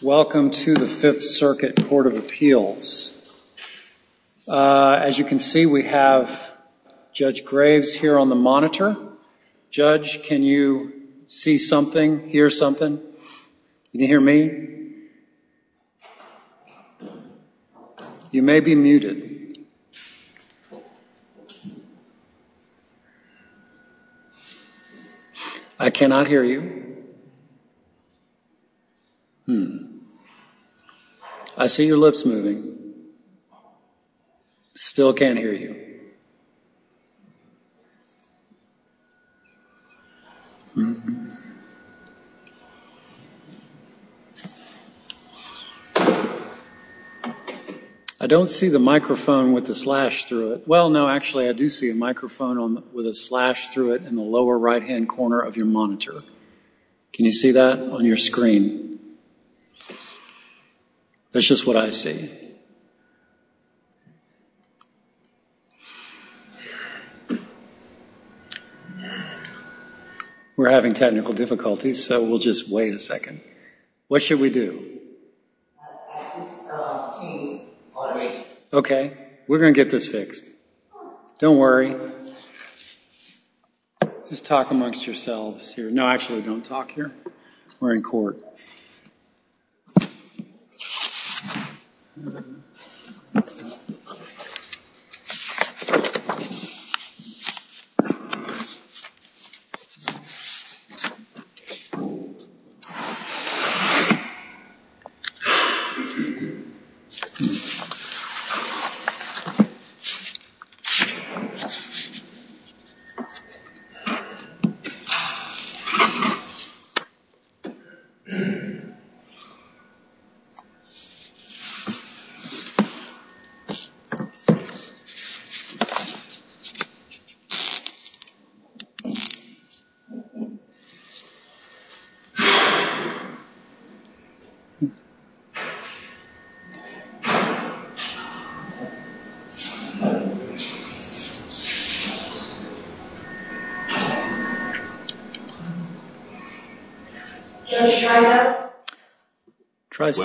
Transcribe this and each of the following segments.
Welcome to the Fifth Circuit Court of Appeals. As you can see, we have Judge Graves here on the monitor. Judge, can you see something, hear something? Can you hear me? You may be muted. I cannot hear you. I see your lips moving. Still can't hear you. I don't see the microphone with the slash through it. Well, no, actually I do see a microphone with a slash through it in the lower right-hand corner of your monitor. Can you see that on your screen? That's just what I see. We're having technical difficulties, so we'll just wait a second. What should we do? Okay, we're going to get this fixed. Don't worry. Just talk amongst yourselves here. No, actually, don't talk here. We're in court. Thank you. Thank you.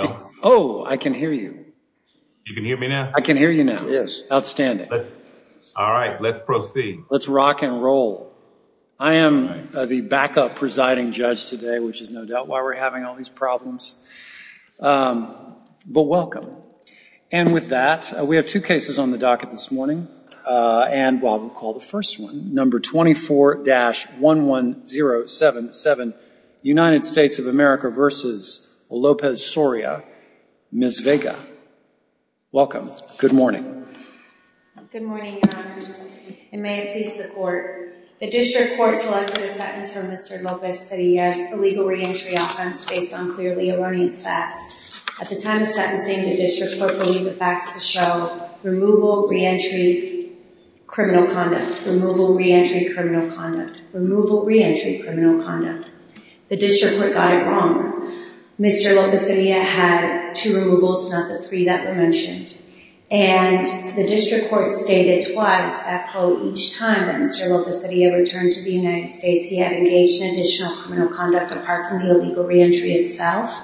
Thank you. Oh, I can hear you. You can hear me now? I can hear you now. Yes. All right, let's proceed. Let's rock and roll. I am the backup presiding judge today, which is no doubt why we're having all these problems, but welcome. And with that, we have two cases on the docket this morning, and I will call the first one, number 24-11077, United States of America v. Lopez Soria, Ms. Vega. Welcome. Good morning. Good morning, Your Honor. And may it please the court, the district court selected a sentence from Mr. Lopez Soria's illegal reentry offense based on clearly erroneous facts. At the time of sentencing, the district court believed the facts to show removal, reentry, criminal conduct. Removal, reentry, criminal conduct. Removal, reentry, criminal conduct. The district court got it wrong. Mr. Lopez Soria had two removals, not the three that were mentioned. And the district court stated twice, after each time that Mr. Lopez Soria returned to the United States, he had engaged in additional criminal conduct apart from the illegal reentry itself.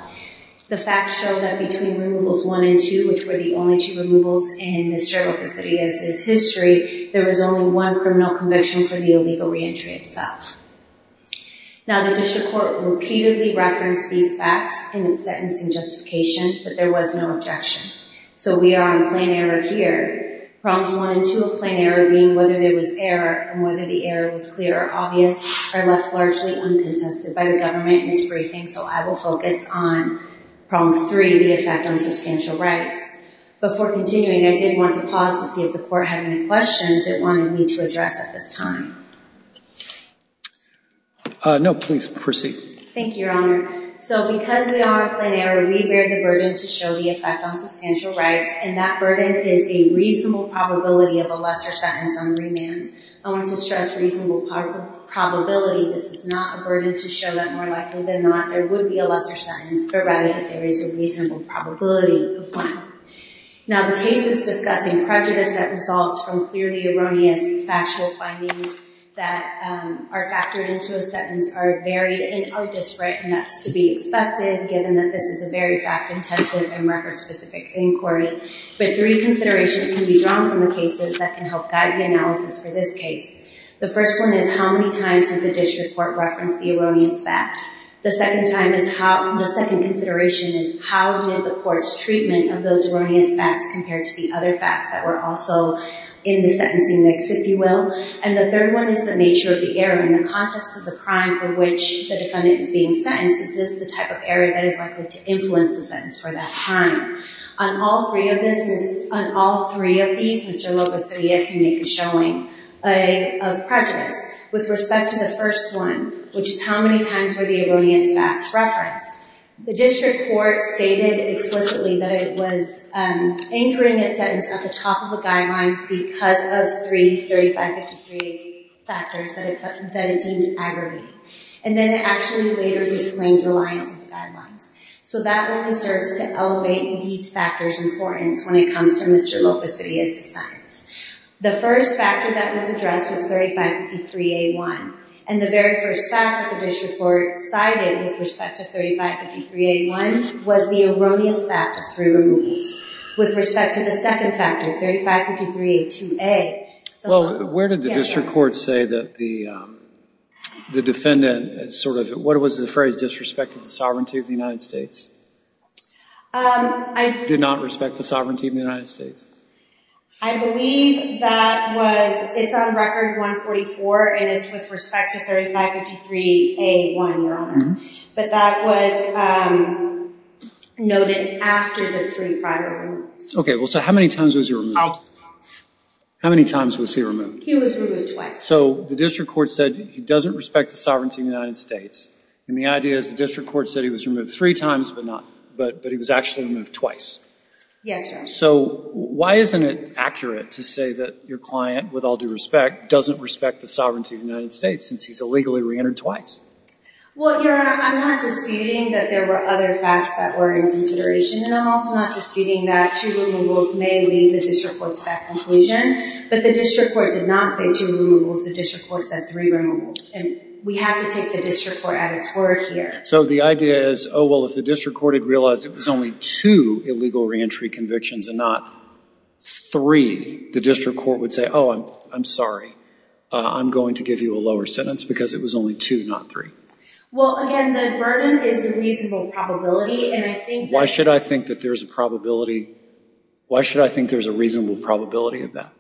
The facts show that between removals one and two, which were the only two removals in Mr. Lopez Soria's history, there was only one criminal conviction for the illegal reentry itself. Now the district court repeatedly referenced these facts in its sentencing justification, but there was no objection. So we are on plain error here. Problems one and two of plain error being whether there was error and whether the error was clear or obvious are left largely uncontested by the government in its briefing. So I will focus on problem three, the effect on substantial rights. Before continuing, I did want to pause to see if the court had any questions it wanted me to address at this time. No, please proceed. Thank you, Your Honor. So because we are on plain error, we bear the burden to show the effect on substantial rights, and that burden is a reasonable probability of a lesser sentence on remand. I want to stress reasonable probability. This is not a burden to show that more likely than not there would be a lesser sentence, but rather that there is a reasonable probability of one. Now the cases discussing prejudice that results from clearly erroneous factual findings that are factored into a sentence are varied and are disparate, and that's to be expected given that this is a very fact-intensive and record-specific inquiry. But three considerations can be drawn from the cases that can help guide the analysis for this case. The first one is how many times did the district court reference the erroneous fact? The second consideration is how did the court's treatment of those erroneous facts compare to the other facts that were also in the sentencing mix, if you will? And the third one is the nature of the error. In the context of the crime for which the defendant is being sentenced, is this the type of error that is likely to influence the sentence for that crime? On all three of these, Mr. Locosilla can make a showing of prejudice. With respect to the first one, which is how many times were the erroneous facts referenced? The district court stated explicitly that it was anchoring its sentence at the top of the guidelines because of three 3553 factors that it deemed aggregate. And then it actually later disclaimed reliance on the guidelines. So that really starts to elevate these factors' importance when it comes to Mr. Locosilla's assignment. The first factor that was addressed was 3553A1, and the very first fact that the district court cited with respect to 3553A1 was the erroneous fact of three removals. With respect to the second factor, 3553A2A. Well, where did the district court say that the defendant sort of, what was the phrase, disrespected the sovereignty of the United States? Did not respect the sovereignty of the United States. I believe that was, it's on record 144, and it's with respect to 3553A1, Your Honor. But that was noted after the three prior ones. Okay, so how many times was he removed? How many times was he removed? He was removed twice. So the district court said he doesn't respect the sovereignty of the United States, and the idea is the district court said he was removed three times, but he was actually removed twice. Yes, Your Honor. Okay, so why isn't it accurate to say that your client, with all due respect, doesn't respect the sovereignty of the United States since he's illegally reentered twice? Well, Your Honor, I'm not disputing that there were other facts that were in consideration, and I'm also not disputing that two removals may lead the district court to that conclusion, but the district court did not say two removals. The district court said three removals, and we have to take the district court at its word here. So the idea is, oh, well, if the district court had realized it was only two illegal reentry convictions and not three, the district court would say, oh, I'm sorry. I'm going to give you a lower sentence because it was only two, not three. Well, again, the burden is the reasonable probability, and I think that... Why should I think that there's a probability? Why should I think there's a reasonable probability of that?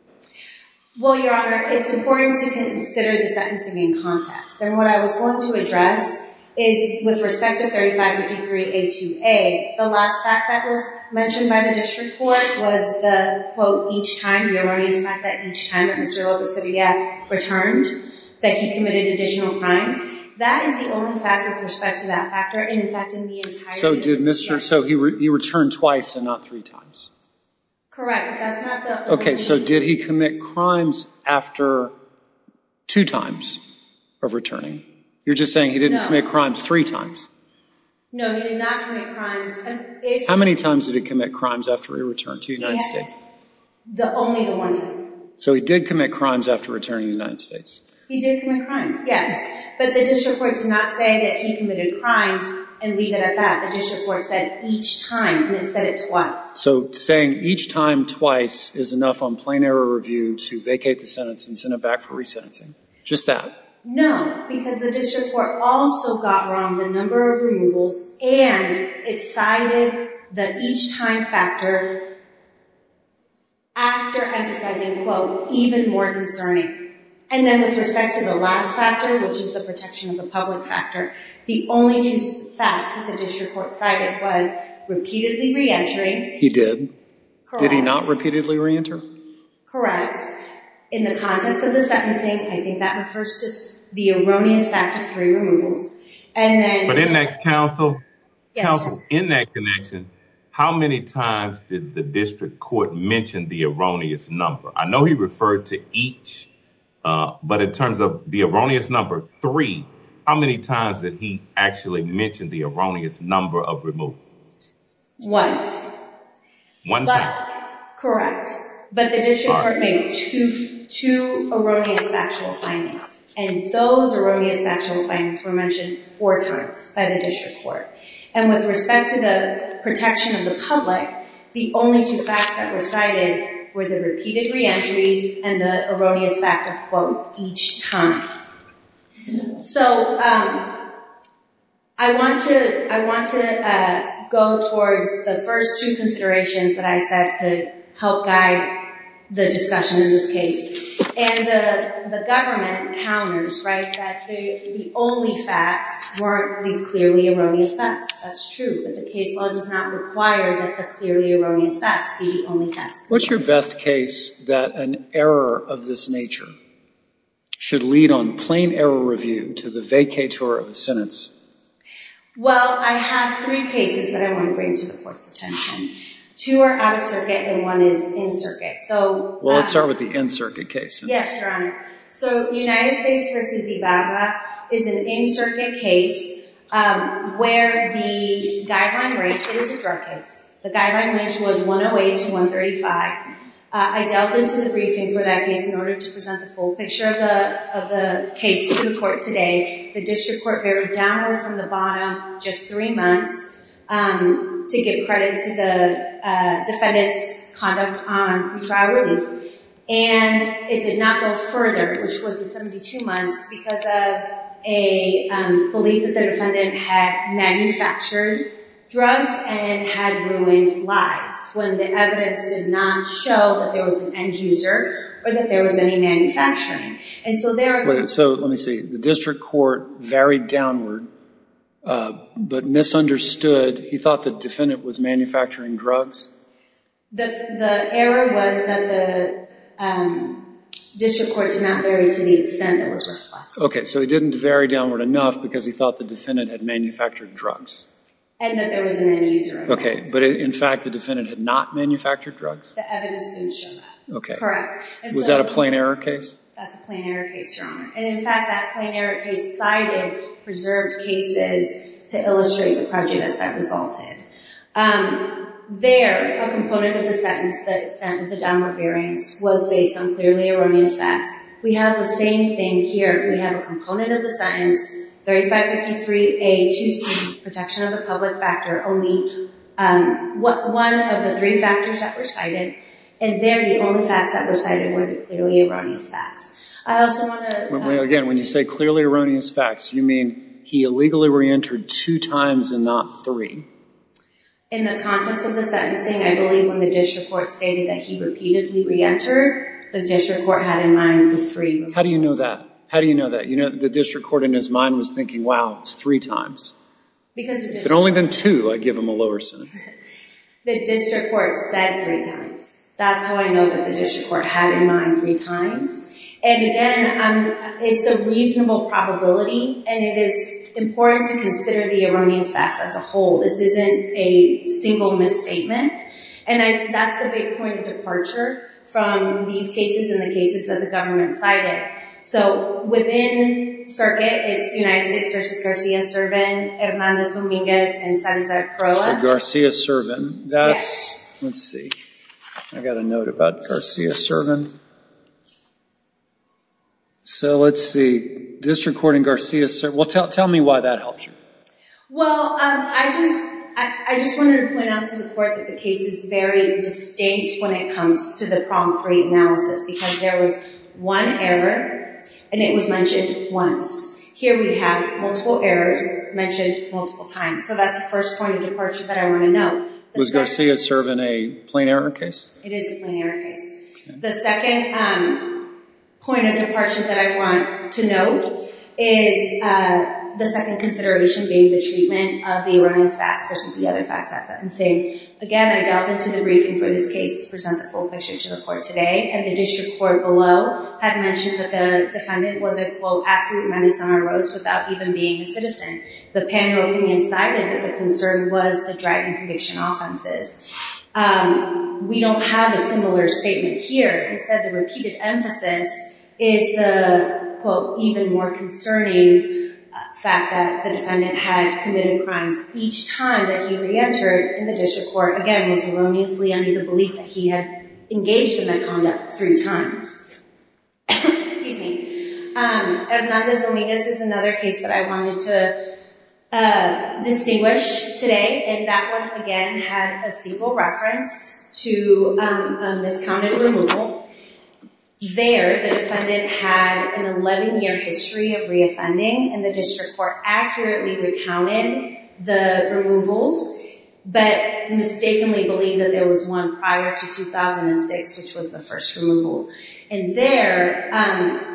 Well, Your Honor, it's important to consider the sentencing in context, and what I was going to address is, with respect to 3583A2A, the last fact that was mentioned by the district court was the, quote, each time, the erroneous fact that each time that Mr. Lopez-Savillia returned, that he committed additional crimes. That is the only fact with respect to that factor, and, in fact, in the entire case... So he returned twice and not three times? Correct. That's not the... Okay, so did he commit crimes after two times of returning? You're just saying he didn't commit crimes three times? No, he did not commit crimes... How many times did he commit crimes after he returned to the United States? Only the one time. So he did commit crimes after returning to the United States? He did commit crimes, yes, but the district court did not say that he committed crimes and leave it at that. The district court said each time, and it said it twice. So saying each time twice is enough on plain error review to vacate the sentence and send it back for resentencing? Just that? No, because the district court also got wrong the number of removals and it cited the each time factor after emphasizing, quote, even more concerning. And then with respect to the last factor, which is the protection of the public factor, the only two facts that the district court cited was repeatedly re-entering... He did? Did he not repeatedly re-enter? Correct. In the context of the sentencing, I think that refers to the erroneous fact of three removals. But in that counsel, in that connection, how many times did the district court mention the erroneous number? I know he referred to each, but in terms of the erroneous number three, how many times did he actually mention the erroneous number of removal? Once. One time? Correct. But the district court made two erroneous factual findings. And those erroneous factual findings were mentioned four times by the district court. And with respect to the protection of the public, the only two facts that were cited were the repeated re-entries and the erroneous fact of, quote, each time. So I want to go towards the first two considerations that I said could help guide the discussion in this case. And the government counters, right, that the only facts weren't the clearly erroneous facts. That's true, but the case law does not require that the clearly erroneous facts be the only facts. What's your best case that an error of this nature should lead on plain error review to the vacatur of a sentence? Well, I have three cases that I want to bring to the court's attention. Two are out of circuit and one is in circuit. Well, let's start with the in-circuit case. Yes, Your Honor. So United States v. Ibaga is an in-circuit case where the guideline range is a drug case. The guideline range was 108 to 135. I delved into the briefing for that case in order to present the full picture of the case to the court today. The district court varied downward from the bottom just three months to give credit to the defendant's conduct on pretrial release. And it did not go further, which was the 72 months, because of a belief that the defendant had manufactured drugs and had ruined lives, when the evidence did not show that there was an end user or that there was any manufacturing. So let me see. The district court varied downward but misunderstood. He thought the defendant was manufacturing drugs? The error was that the district court did not vary to the extent that was requested. Okay. So it didn't vary downward enough because he thought the defendant had manufactured drugs? And that there was an end user. Okay. But, in fact, the defendant had not manufactured drugs? The evidence didn't show that. Okay. Correct. Was that a plain error case? That's a plain error case, Your Honor. And, in fact, that plain error case cited preserved cases to illustrate the prejudice that resulted. There, a component of the sentence that said the downward variance was based on clearly erroneous facts. We have the same thing here. We have a component of the sentence, 3553A2C, protection of the public factor, only one of the three factors that were cited. And there, the only facts that were cited were the clearly erroneous facts. I also want to... Again, when you say clearly erroneous facts, you mean he illegally reentered two times and not three? In the context of the sentencing, I believe when the district court stated that he repeatedly reentered, the district court had in mind the three. How do you know that? How do you know that? The district court in his mind was thinking, wow, it's three times. Because... If it had only been two, I'd give him a lower sentence. The district court said three times. That's how I know that the district court had in mind three times. And, again, it's a reasonable probability, and it is important to consider the erroneous facts as a whole. This isn't a single misstatement. And that's the big point of departure from these cases and the cases that the government cited. So, within circuit, it's United States v. Garcia-Servin, Hernández Domínguez, and Sanza-Cruz. So, Garcia-Servin, that's... Let's see. I've got a note about Garcia-Servin. So, let's see. District court in Garcia-Servin. Well, tell me why that helps you. Well, I just wanted to point out to the court that the case is very distinct when it comes to the problem-free analysis because there was one error, and it was mentioned once. Here we have multiple errors mentioned multiple times. So, that's the first point of departure that I want to note. Was Garcia-Servin a plain error case? It is a plain error case. The second point of departure that I want to note is the second consideration being the treatment of the erroneous facts versus the other facts. That's what I'm saying. Again, I delved into the briefing for this case to present the full picture to the court today, and the district court below had mentioned that the defendant was a, quote, without even being a citizen. The panel openly incited that the concern was the drug and conviction offenses. We don't have a similar statement here. Instead, the repeated emphasis is the, quote, even more concerning fact that the defendant had committed crimes each time that he reentered in the district court. Again, it was erroneously under the belief that he had engaged in that conduct three times. Excuse me. Hernandez-Omigas is another case that I wanted to distinguish today, and that one, again, had a CEQA reference to a miscounted removal. There, the defendant had an 11-year history of reoffending, and the district court accurately recounted the removals, but mistakenly believed that there was one prior to 2006, which was the first removal. There,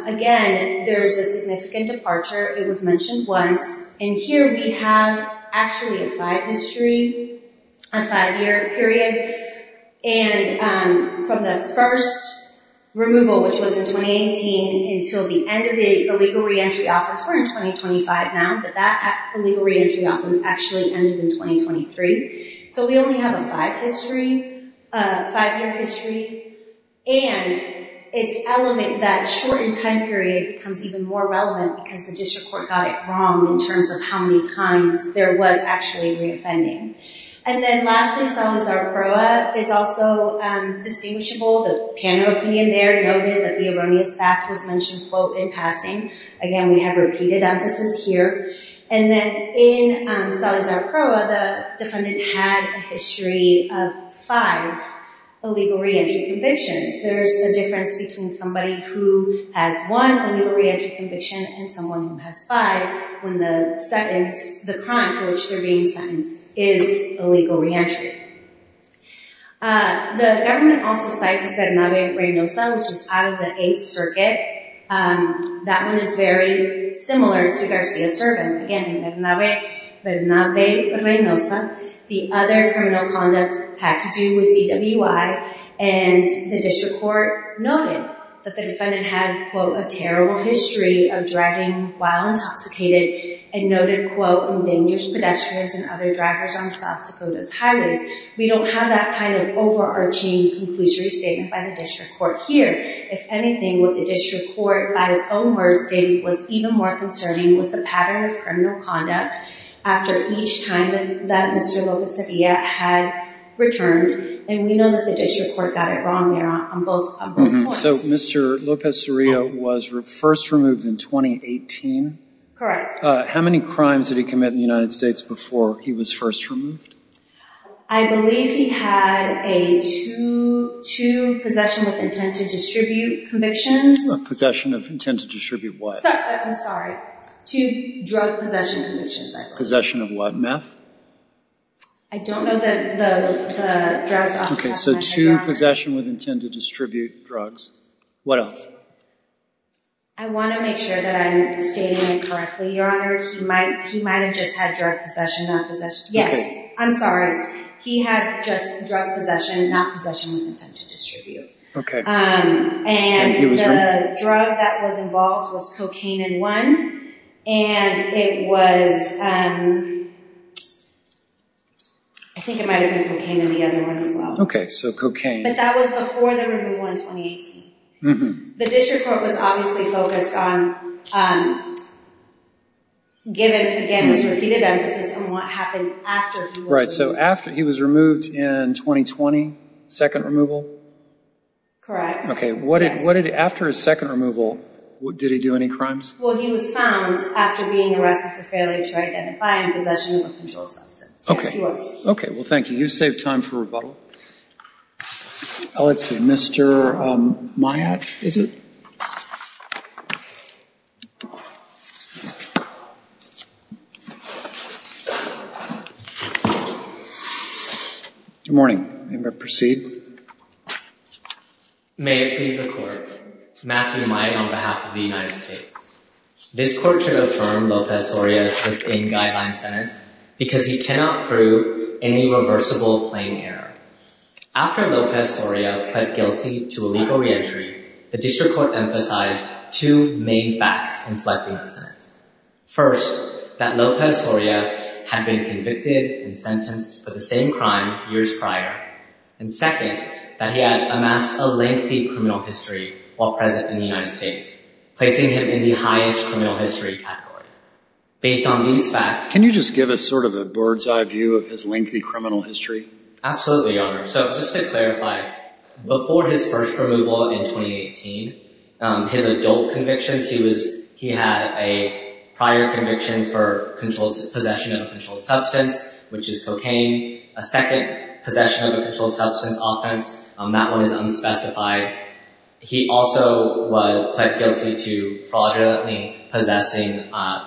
again, there's a significant departure. It was mentioned once. Here, we have actually a five-year history, a five-year period. From the first removal, which was in 2018, until the end of the illegal reentry offense, we're in 2025 now, but that illegal reentry offense actually ended in 2023. So, we only have a five-year history, and that shortened time period becomes even more relevant because the district court got it wrong in terms of how many times there was actually reoffending. And then, lastly, Salazar-Proa is also distinguishable. The panel opinion there noted that the erroneous fact was mentioned, quote, in passing. Again, we have repeated emphasis here. And then, in Salazar-Proa, the defendant had a history of five illegal reentry convictions. There's a difference between somebody who has one illegal reentry conviction and someone who has five when the sentence, the crime for which they're being sentenced, is illegal reentry. The government also cites Fernando Reynosa, which is out of the Eighth Circuit. That one is very similar to Garcia-Servan. Again, in Fernando Reynosa, the other criminal conduct had to do with DWI, and the district court noted that the defendant had, quote, a terrible history of driving while intoxicated and noted, quote, endangered pedestrians and other drivers on South Dakota's highways. We don't have that kind of overarching conclusory statement by the district court here. If anything, what the district court, by its own words, stated was even more concerning was the pattern of criminal conduct after each time that Mr. Lopez-Soria had returned. And we know that the district court got it wrong there on both points. So Mr. Lopez-Soria was first removed in 2018? Correct. How many crimes did he commit in the United States before he was first removed? I believe he had a two possession with intent to distribute convictions. Possession of intent to distribute what? I'm sorry. Two drug possession convictions, I believe. Possession of what? I don't know the drugs off the top of my head. Okay. So two possession with intent to distribute drugs. What else? I want to make sure that I'm stating it correctly, Your Honor. He might have just had drug possession, not possession. Yes. I'm sorry. He had just drug possession, not possession with intent to distribute. Okay. And the drug that was involved was cocaine in one. And it was, I think it might have been cocaine in the other one as well. Okay. So cocaine. But that was before the removal in 2018. The district court was obviously focused on, given, again, his repeated emphasis on what happened after he was removed. Right. So after he was removed in 2020, second removal? Correct. Okay. After his second removal, did he do any crimes? Well, he was found after being arrested for failure to identify and possession of a controlled substance. Okay. Yes, he was. Okay. Well, thank you. You saved time for rebuttal. Let's see. Mr. Myatt, is it? Good morning. May I proceed? May it please the court. Matthew Myatt on behalf of the United States. This court should affirm Lopez-Oria's within-guideline sentence because he cannot prove any reversible claim error. After Lopez-Oria pled guilty to illegal reentry, the district court emphasized two main facts in selecting the sentence. First, that Lopez-Oria had been convicted and sentenced for the same crime years prior. And second, that he had amassed a lengthy criminal history while present in the United States, placing him in the highest criminal history category. Based on these facts… Can you just give us sort of a bird's-eye view of his lengthy criminal history? Absolutely, Your Honor. So just to clarify, before his first removal in 2018, his adult convictions, he had a prior conviction for possession of a controlled substance, which is cocaine, a second possession of a controlled substance offense. That one is unspecified. He also pled guilty to fraudulently possessing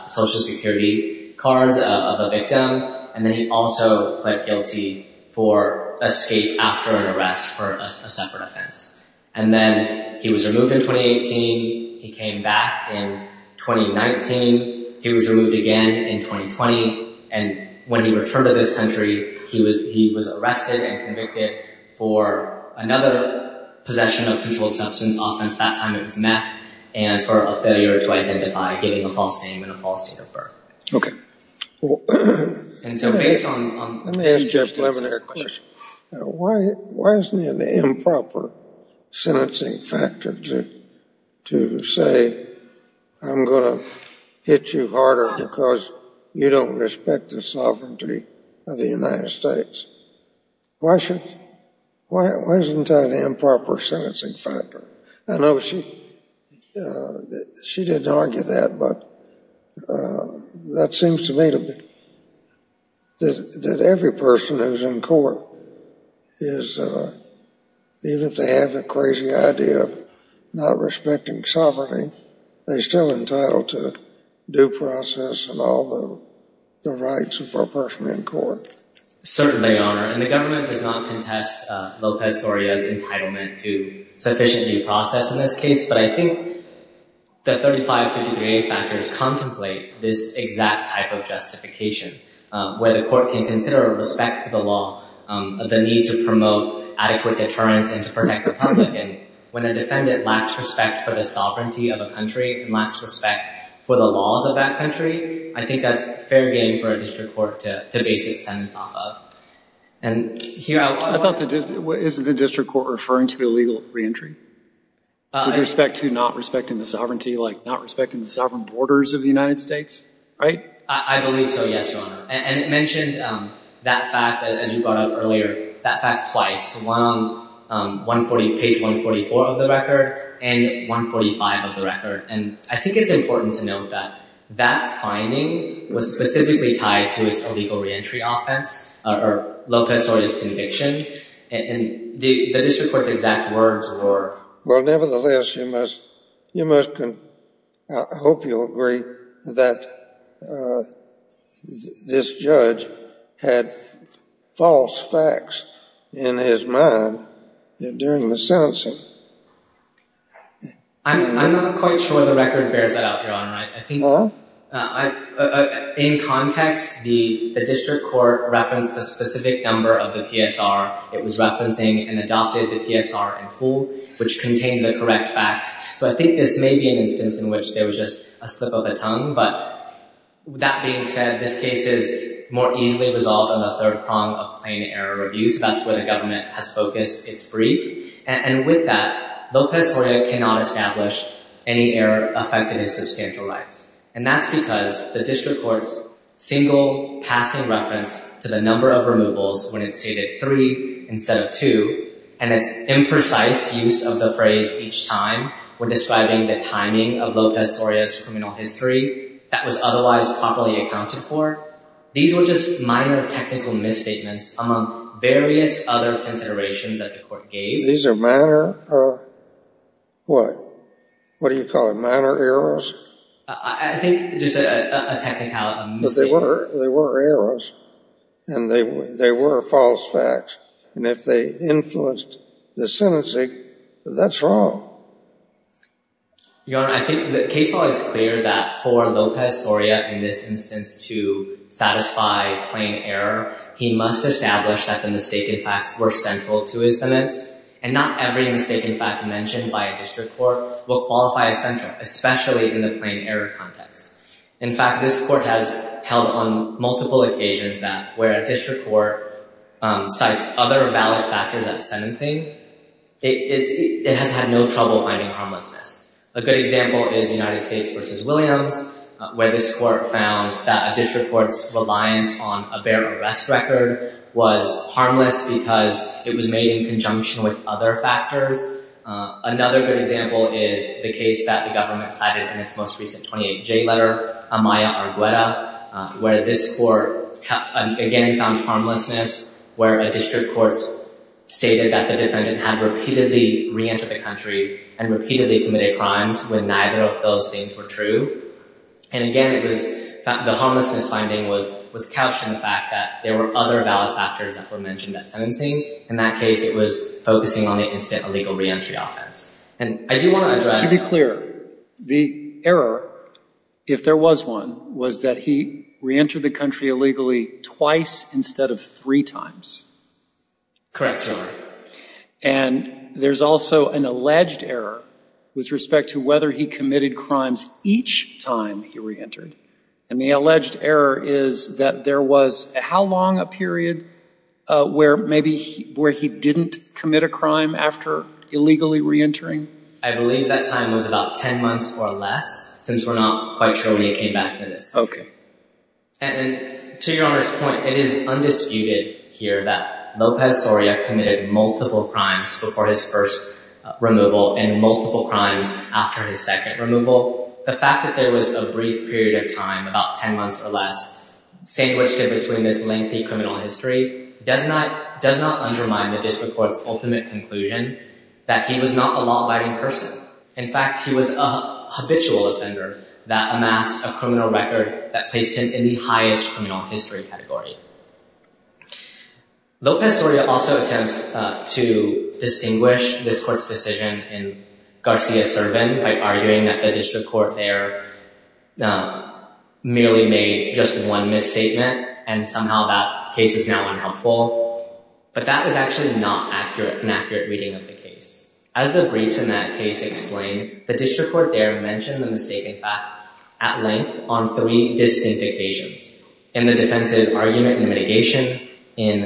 Social Security cards of a victim. And then he also pled guilty for escape after an arrest for a separate offense. And then he was removed in 2018. He came back in 2019. He was removed again in 2020. And when he returned to this country, he was arrested and convicted for another possession of a controlled substance offense. That time it was meth. And for a failure to identify, giving a false name and a false date of birth. And so based on… Let me ask Jeff Lemonaire a question. Why isn't it an improper sentencing factor to say, I'm going to hit you harder because you don't respect the sovereignty of the United States? Why isn't that an improper sentencing factor? I know she didn't argue that, but that seems to me to be… That every person who's in court is… Even if they have the crazy idea of not respecting sovereignty, they're still entitled to due process and all the rights of a person in court. Certainly, Your Honor. And the government does not contest Lopez-Soria's entitlement to sufficient due process in this case. But I think the 3553A factors contemplate this exact type of justification. Where the court can consider or respect the law, the need to promote adequate deterrence and to protect the public. And when a defendant lacks respect for the sovereignty of a country, and lacks respect for the laws of that country, I think that's fair game for a district court to base its sentence off of. And here… Isn't the district court referring to illegal reentry? With respect to not respecting the sovereignty, like not respecting the sovereign borders of the United States? Right? I believe so, yes, Your Honor. And it mentioned that fact, as you brought up earlier, that fact twice. One on page 144 of the record, and 145 of the record. And I think it's important to note that that finding was specifically tied to its illegal reentry offense, or Lopez-Soria's conviction, and the district court's exact words were… Well, nevertheless, you must… I hope you'll agree that this judge had false facts in his mind during the sentencing. I'm not quite sure the record bears that out, Your Honor. In context, the district court referenced a specific number of the PSR. It was referencing and adopted the PSR in full, which contained the correct facts. So I think this may be an instance in which there was just a slip of the tongue, but that being said, this case is more easily resolved on the third prong of plain error reviews. That's where the government has focused its brief. And with that, Lopez-Soria cannot establish any error affecting his substantial rights. And that's because the district court's single passing reference to the number of removals when it stated three instead of two, and its imprecise use of the phrase each time when describing the timing of Lopez-Soria's criminal history that was otherwise properly accounted for, these were just minor technical misstatements among various other considerations that the court gave. These are minor or what? What do you call it, minor errors? I think just a technical mistake. But they were errors, and they were false facts. And if they influenced the sentencing, that's wrong. Your Honor, I think the case law is clear that for Lopez-Soria in this instance to satisfy plain error, he must establish that the mistaken facts were central to his sentence, and not every mistaken fact mentioned by a district court will qualify as central, especially in the plain error context. In fact, this court has held on multiple occasions that where a district court cites other valid factors at sentencing, it has had no trouble finding harmlessness. A good example is United States v. Williams, where this court found that a district court's reliance on a bare arrest record was harmless because it was made in conjunction with other factors. Another good example is the case that the government cited in its most recent 28J letter, Amaya Argueta, where this court again found harmlessness, where a district court stated that the defendant had repeatedly reentered the country and repeatedly committed crimes when neither of those things were true. And again, it was the homelessness finding was couched in the fact that there were other valid factors that were mentioned at sentencing. In that case, it was focusing on the instant illegal reentry offense. And I do want to address… To be clear, the error, if there was one, was that he reentered the country illegally twice instead of three times. Correct, Your Honor. And there's also an alleged error with respect to whether he committed crimes each time he reentered. And the alleged error is that there was how long a period where maybe he didn't commit a crime after illegally reentering? I believe that time was about 10 months or less, since we're not quite sure when he came back. Okay. And to Your Honor's point, it is undisputed here that Lopez Soria committed multiple crimes before his first removal and multiple crimes after his second removal. The fact that there was a brief period of time, about 10 months or less, sandwiched in between this lengthy criminal history does not undermine the district court's ultimate conclusion that he was not a law-abiding person. In fact, he was a habitual offender that amassed a criminal record that placed him in the highest criminal history category. Lopez Soria also attempts to distinguish this court's decision in Garcia-Servin by arguing that the district court there merely made just one misstatement and somehow that case is now unhelpful. But that was actually not an accurate reading of the case. As the briefs in that case explain, the district court there mentioned the misstatement fact at length on three distinct occasions, in the defense's argument and mitigation, during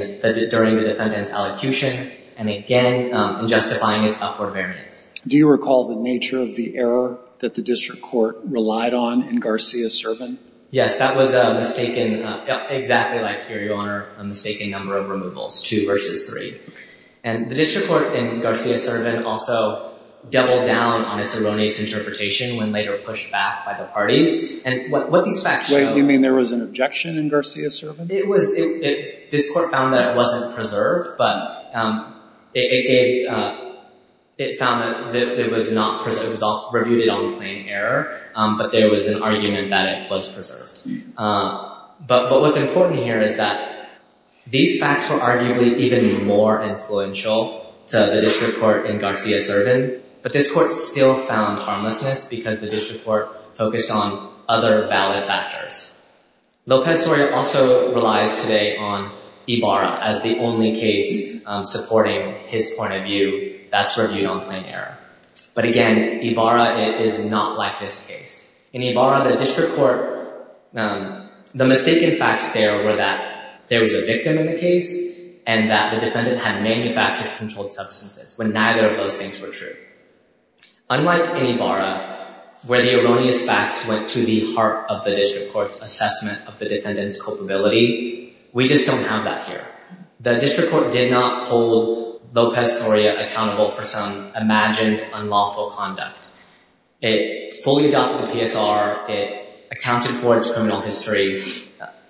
the defendant's elocution, and again, in justifying its upward variance. Do you recall the nature of the error that the district court relied on in Garcia-Servin? Yes, that was a mistaken, exactly like here, Your Honor, a mistaken number of removals, two versus three. And the district court in Garcia-Servin also doubled down on its erroneous interpretation when later pushed back by the parties. And what these facts show— Wait, you mean there was an objection in Garcia-Servin? It was—this court found that it wasn't preserved, but it gave—it found that it was not—it was reviewed on plain error, but there was an argument that it was preserved. But what's important here is that these facts were arguably even more influential to the district court in Garcia-Servin, but this court still found harmlessness because the district court focused on other valid factors. Lopez-Soria also relies today on Ibarra as the only case supporting his point of view, that's reviewed on plain error. But again, Ibarra is not like this case. In Ibarra, the district court—the mistaken facts there were that there was a victim in the case and that the defendant had manufactured controlled substances when neither of those things were true. Unlike Ibarra, where the erroneous facts went to the heart of the district court's assessment of the defendant's culpability, we just don't have that here. The district court did not hold Lopez-Soria accountable for some imagined unlawful conduct. It fully adopted the PSR, it accounted for its criminal history.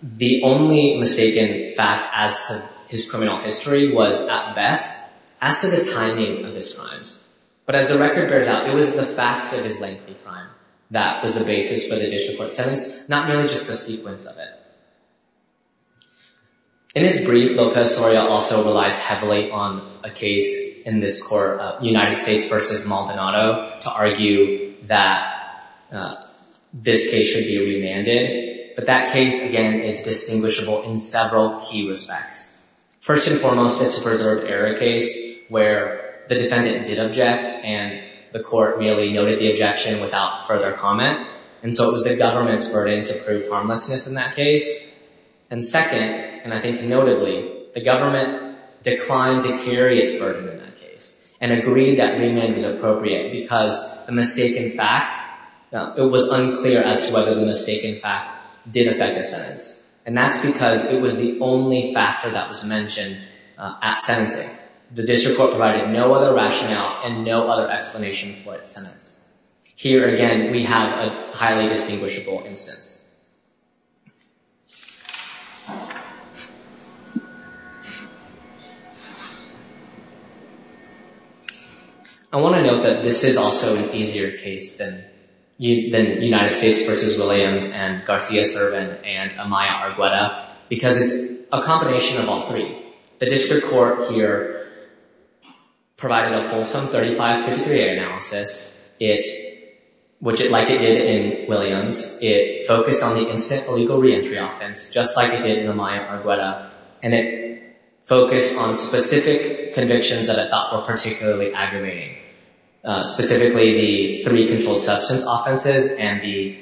The only mistaken fact as to his criminal history was, at best, as to the timing of his crimes. But as the record bears out, it was the fact of his lengthy crime that was the basis for the district court's sentence, not merely just the sequence of it. In his brief, Lopez-Soria also relies heavily on a case in this court, United States v. Maldonado, to argue that this case should be remanded. But that case, again, is distinguishable in several key respects. First and foremost, it's a preserved error case where the defendant did object and the court merely noted the objection without further comment. And so it was the government's burden to prove harmlessness in that case. And second, and I think notably, the government declined to carry its burden in that case and agreed that remand was appropriate because the mistaken fact, it was unclear as to whether the mistaken fact did affect the sentence. And that's because it was the only factor that was mentioned at sentencing. The district court provided no other rationale and no other explanation for its sentence. Here, again, we have a highly distinguishable instance. I want to note that this is also an easier case than United States v. Williams and Garcia-Servin and Amaya-Argueda because it's a combination of all three. The district court here provided a fulsome 3553A analysis, like it did in Williams. It focused on the instant illegal reentry offense, just like it did in Amaya-Argueda. And it focused on specific convictions that it thought were particularly aggravating, specifically the three controlled substance offenses and the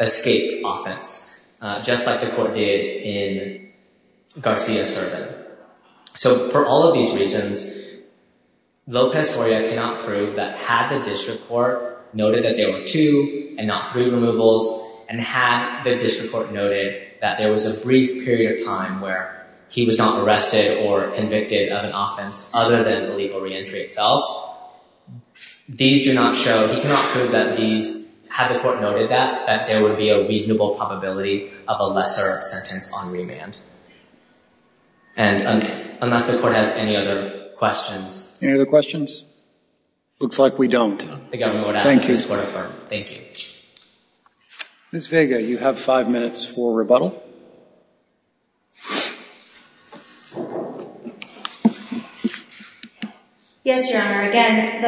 escape offense, just like the court did in Garcia-Servin. So for all of these reasons, Lopez-Oria cannot prove that had the district court noted that there were two and not three removals and had the district court noted that there was a brief period of time where he was not arrested or convicted of an offense other than the legal reentry itself. These do not show, he cannot prove that these, had the court noted that, that there would be a reasonable probability of a lesser sentence on remand. And unless the court has any other questions. Any other questions? Looks like we don't. The government would ask that this court affirm. Thank you. Ms. Vega, you have five minutes for rebuttal. Yes, Your Honor. Again,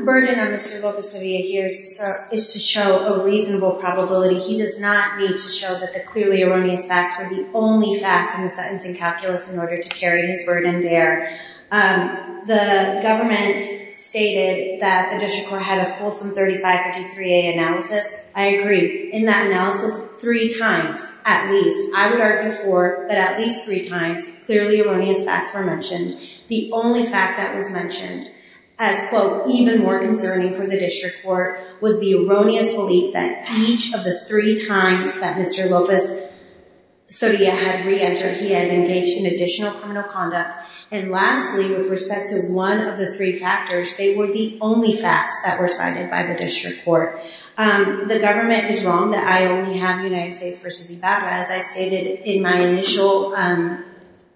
the burden of Mr. Lopez-Oria here is to show a reasonable probability. He does not need to show that the clearly erroneous facts were the only facts in the sentencing calculus in order to carry his burden there. The government stated that the district court had a fulsome 3553A analysis. I agree. In that analysis, three times at least, I would argue four, but at least three times, clearly erroneous facts were mentioned. The only fact that was mentioned as, quote, even more concerning for the district court was the erroneous belief that each of the three times that Mr. Lopez-Oria had reentered, he had engaged in additional criminal conduct. And lastly, with respect to one of the three factors, they were the only facts that were cited by the district court. The government is wrong that I only have United States v. Ibarra. As I stated in my initial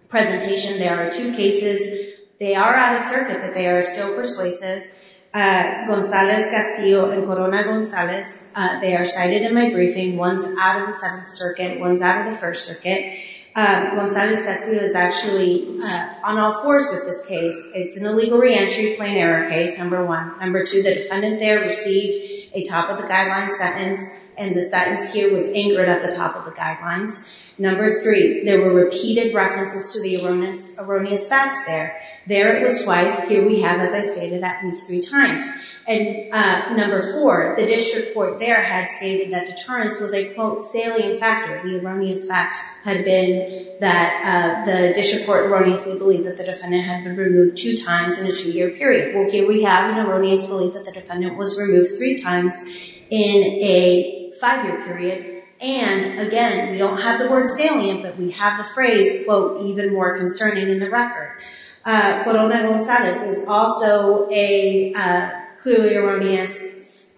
presentation, there are two cases. They are out of circuit, but they are still persuasive. Gonzalez-Castillo and Corona-Gonzalez, they are cited in my briefing. One's out of the Seventh Circuit, one's out of the First Circuit. Gonzalez-Castillo is actually on all fours with this case. It's an illegal reentry plain error case, number one. Number two, the defendant there received a top-of-the-guideline sentence, and the sentence here was anchored at the top of the guidelines. Number three, there were repeated references to the erroneous facts there. There it was twice. Here we have, as I stated, at least three times. And number four, the district court there had stated that deterrence was a, quote, salient factor. The erroneous fact had been that the district court erroneously believed that the defendant had been removed two times in a two-year period. Well, here we have an erroneous belief that the defendant was removed three times in a five-year period. And, again, we don't have the word salient, but we have the phrase, quote, even more concerning in the record. Corona-Gonzalez is also a clearly erroneous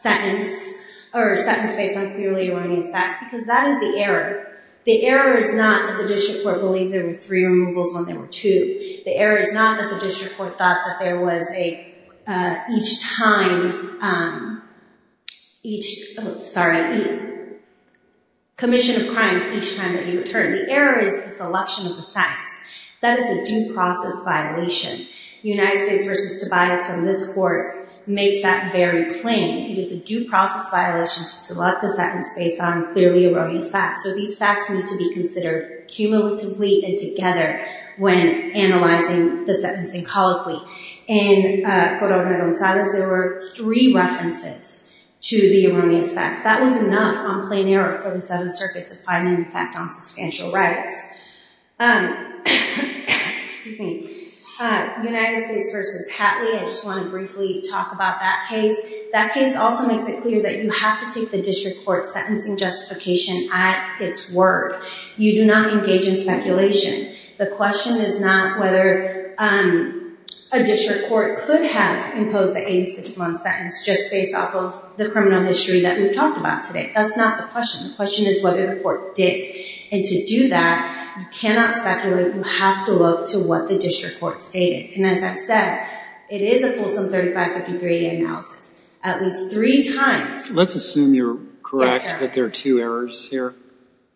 sentence, or a sentence based on clearly erroneous facts, because that is the error. The error is not that the district court believed there were three removals when there were two. The error is not that the district court thought that there was a commission of crimes each time that he returned. The error is the selection of the facts. That is a due process violation. United States v. Tobias from this court makes that very plain. It is a due process violation to select a sentence based on clearly erroneous facts. So these facts need to be considered cumulatively and together when analyzing the sentencing colloquy. In Corona-Gonzalez, there were three references to the erroneous facts. That was enough on plain error for the Seventh Circuit to find an effect on substantial rights. United States v. Hatley, I just want to briefly talk about that case. That case also makes it clear that you have to take the district court's sentencing justification at its word. You do not engage in speculation. The question is not whether a district court could have imposed a 86-month sentence just based off of the criminal history that we've talked about today. That's not the question. The question is whether the court did. And to do that, you cannot speculate. You have to look to what the district court stated. And as I've said, it is a fulsome 3553A analysis at least three times. Let's assume you're correct that there are two errors here.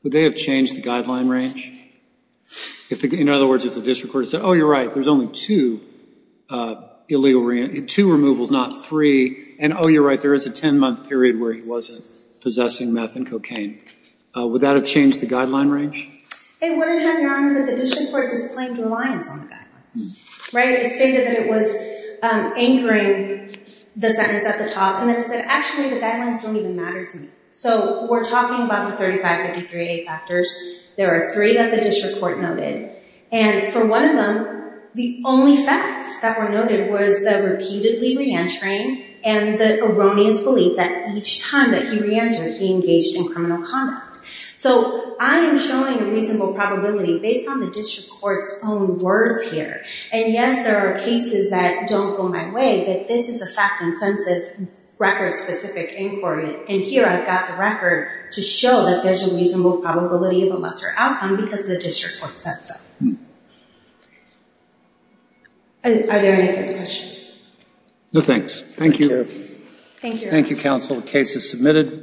Would they have changed the guideline range? In other words, if the district court said, oh, you're right, there's only two illegal, two removals, not three. And, oh, you're right, there is a 10-month period where he wasn't possessing meth and cocaine. Would that have changed the guideline range? It wouldn't have, Your Honor, but the district court disciplined reliance on the guidelines. It stated that it was anchoring the sentence at the top, and then it said, actually, the guidelines don't even matter to me. So we're talking about the 3553A factors. There are three that the district court noted. And for one of them, the only facts that were noted was the repeatedly reentering and the erroneous belief that each time that he reentered, he engaged in criminal conduct. So I am showing a reasonable probability based on the district court's own words here. And, yes, there are cases that don't go my way, but this is a fact-intensive, record-specific inquiry. And here I've got the record to show that there's a reasonable probability of a lesser outcome because the district court said so. Are there any further questions? No, thanks. Thank you. Thank you, Your Honor. Thank you, counsel. The case is submitted.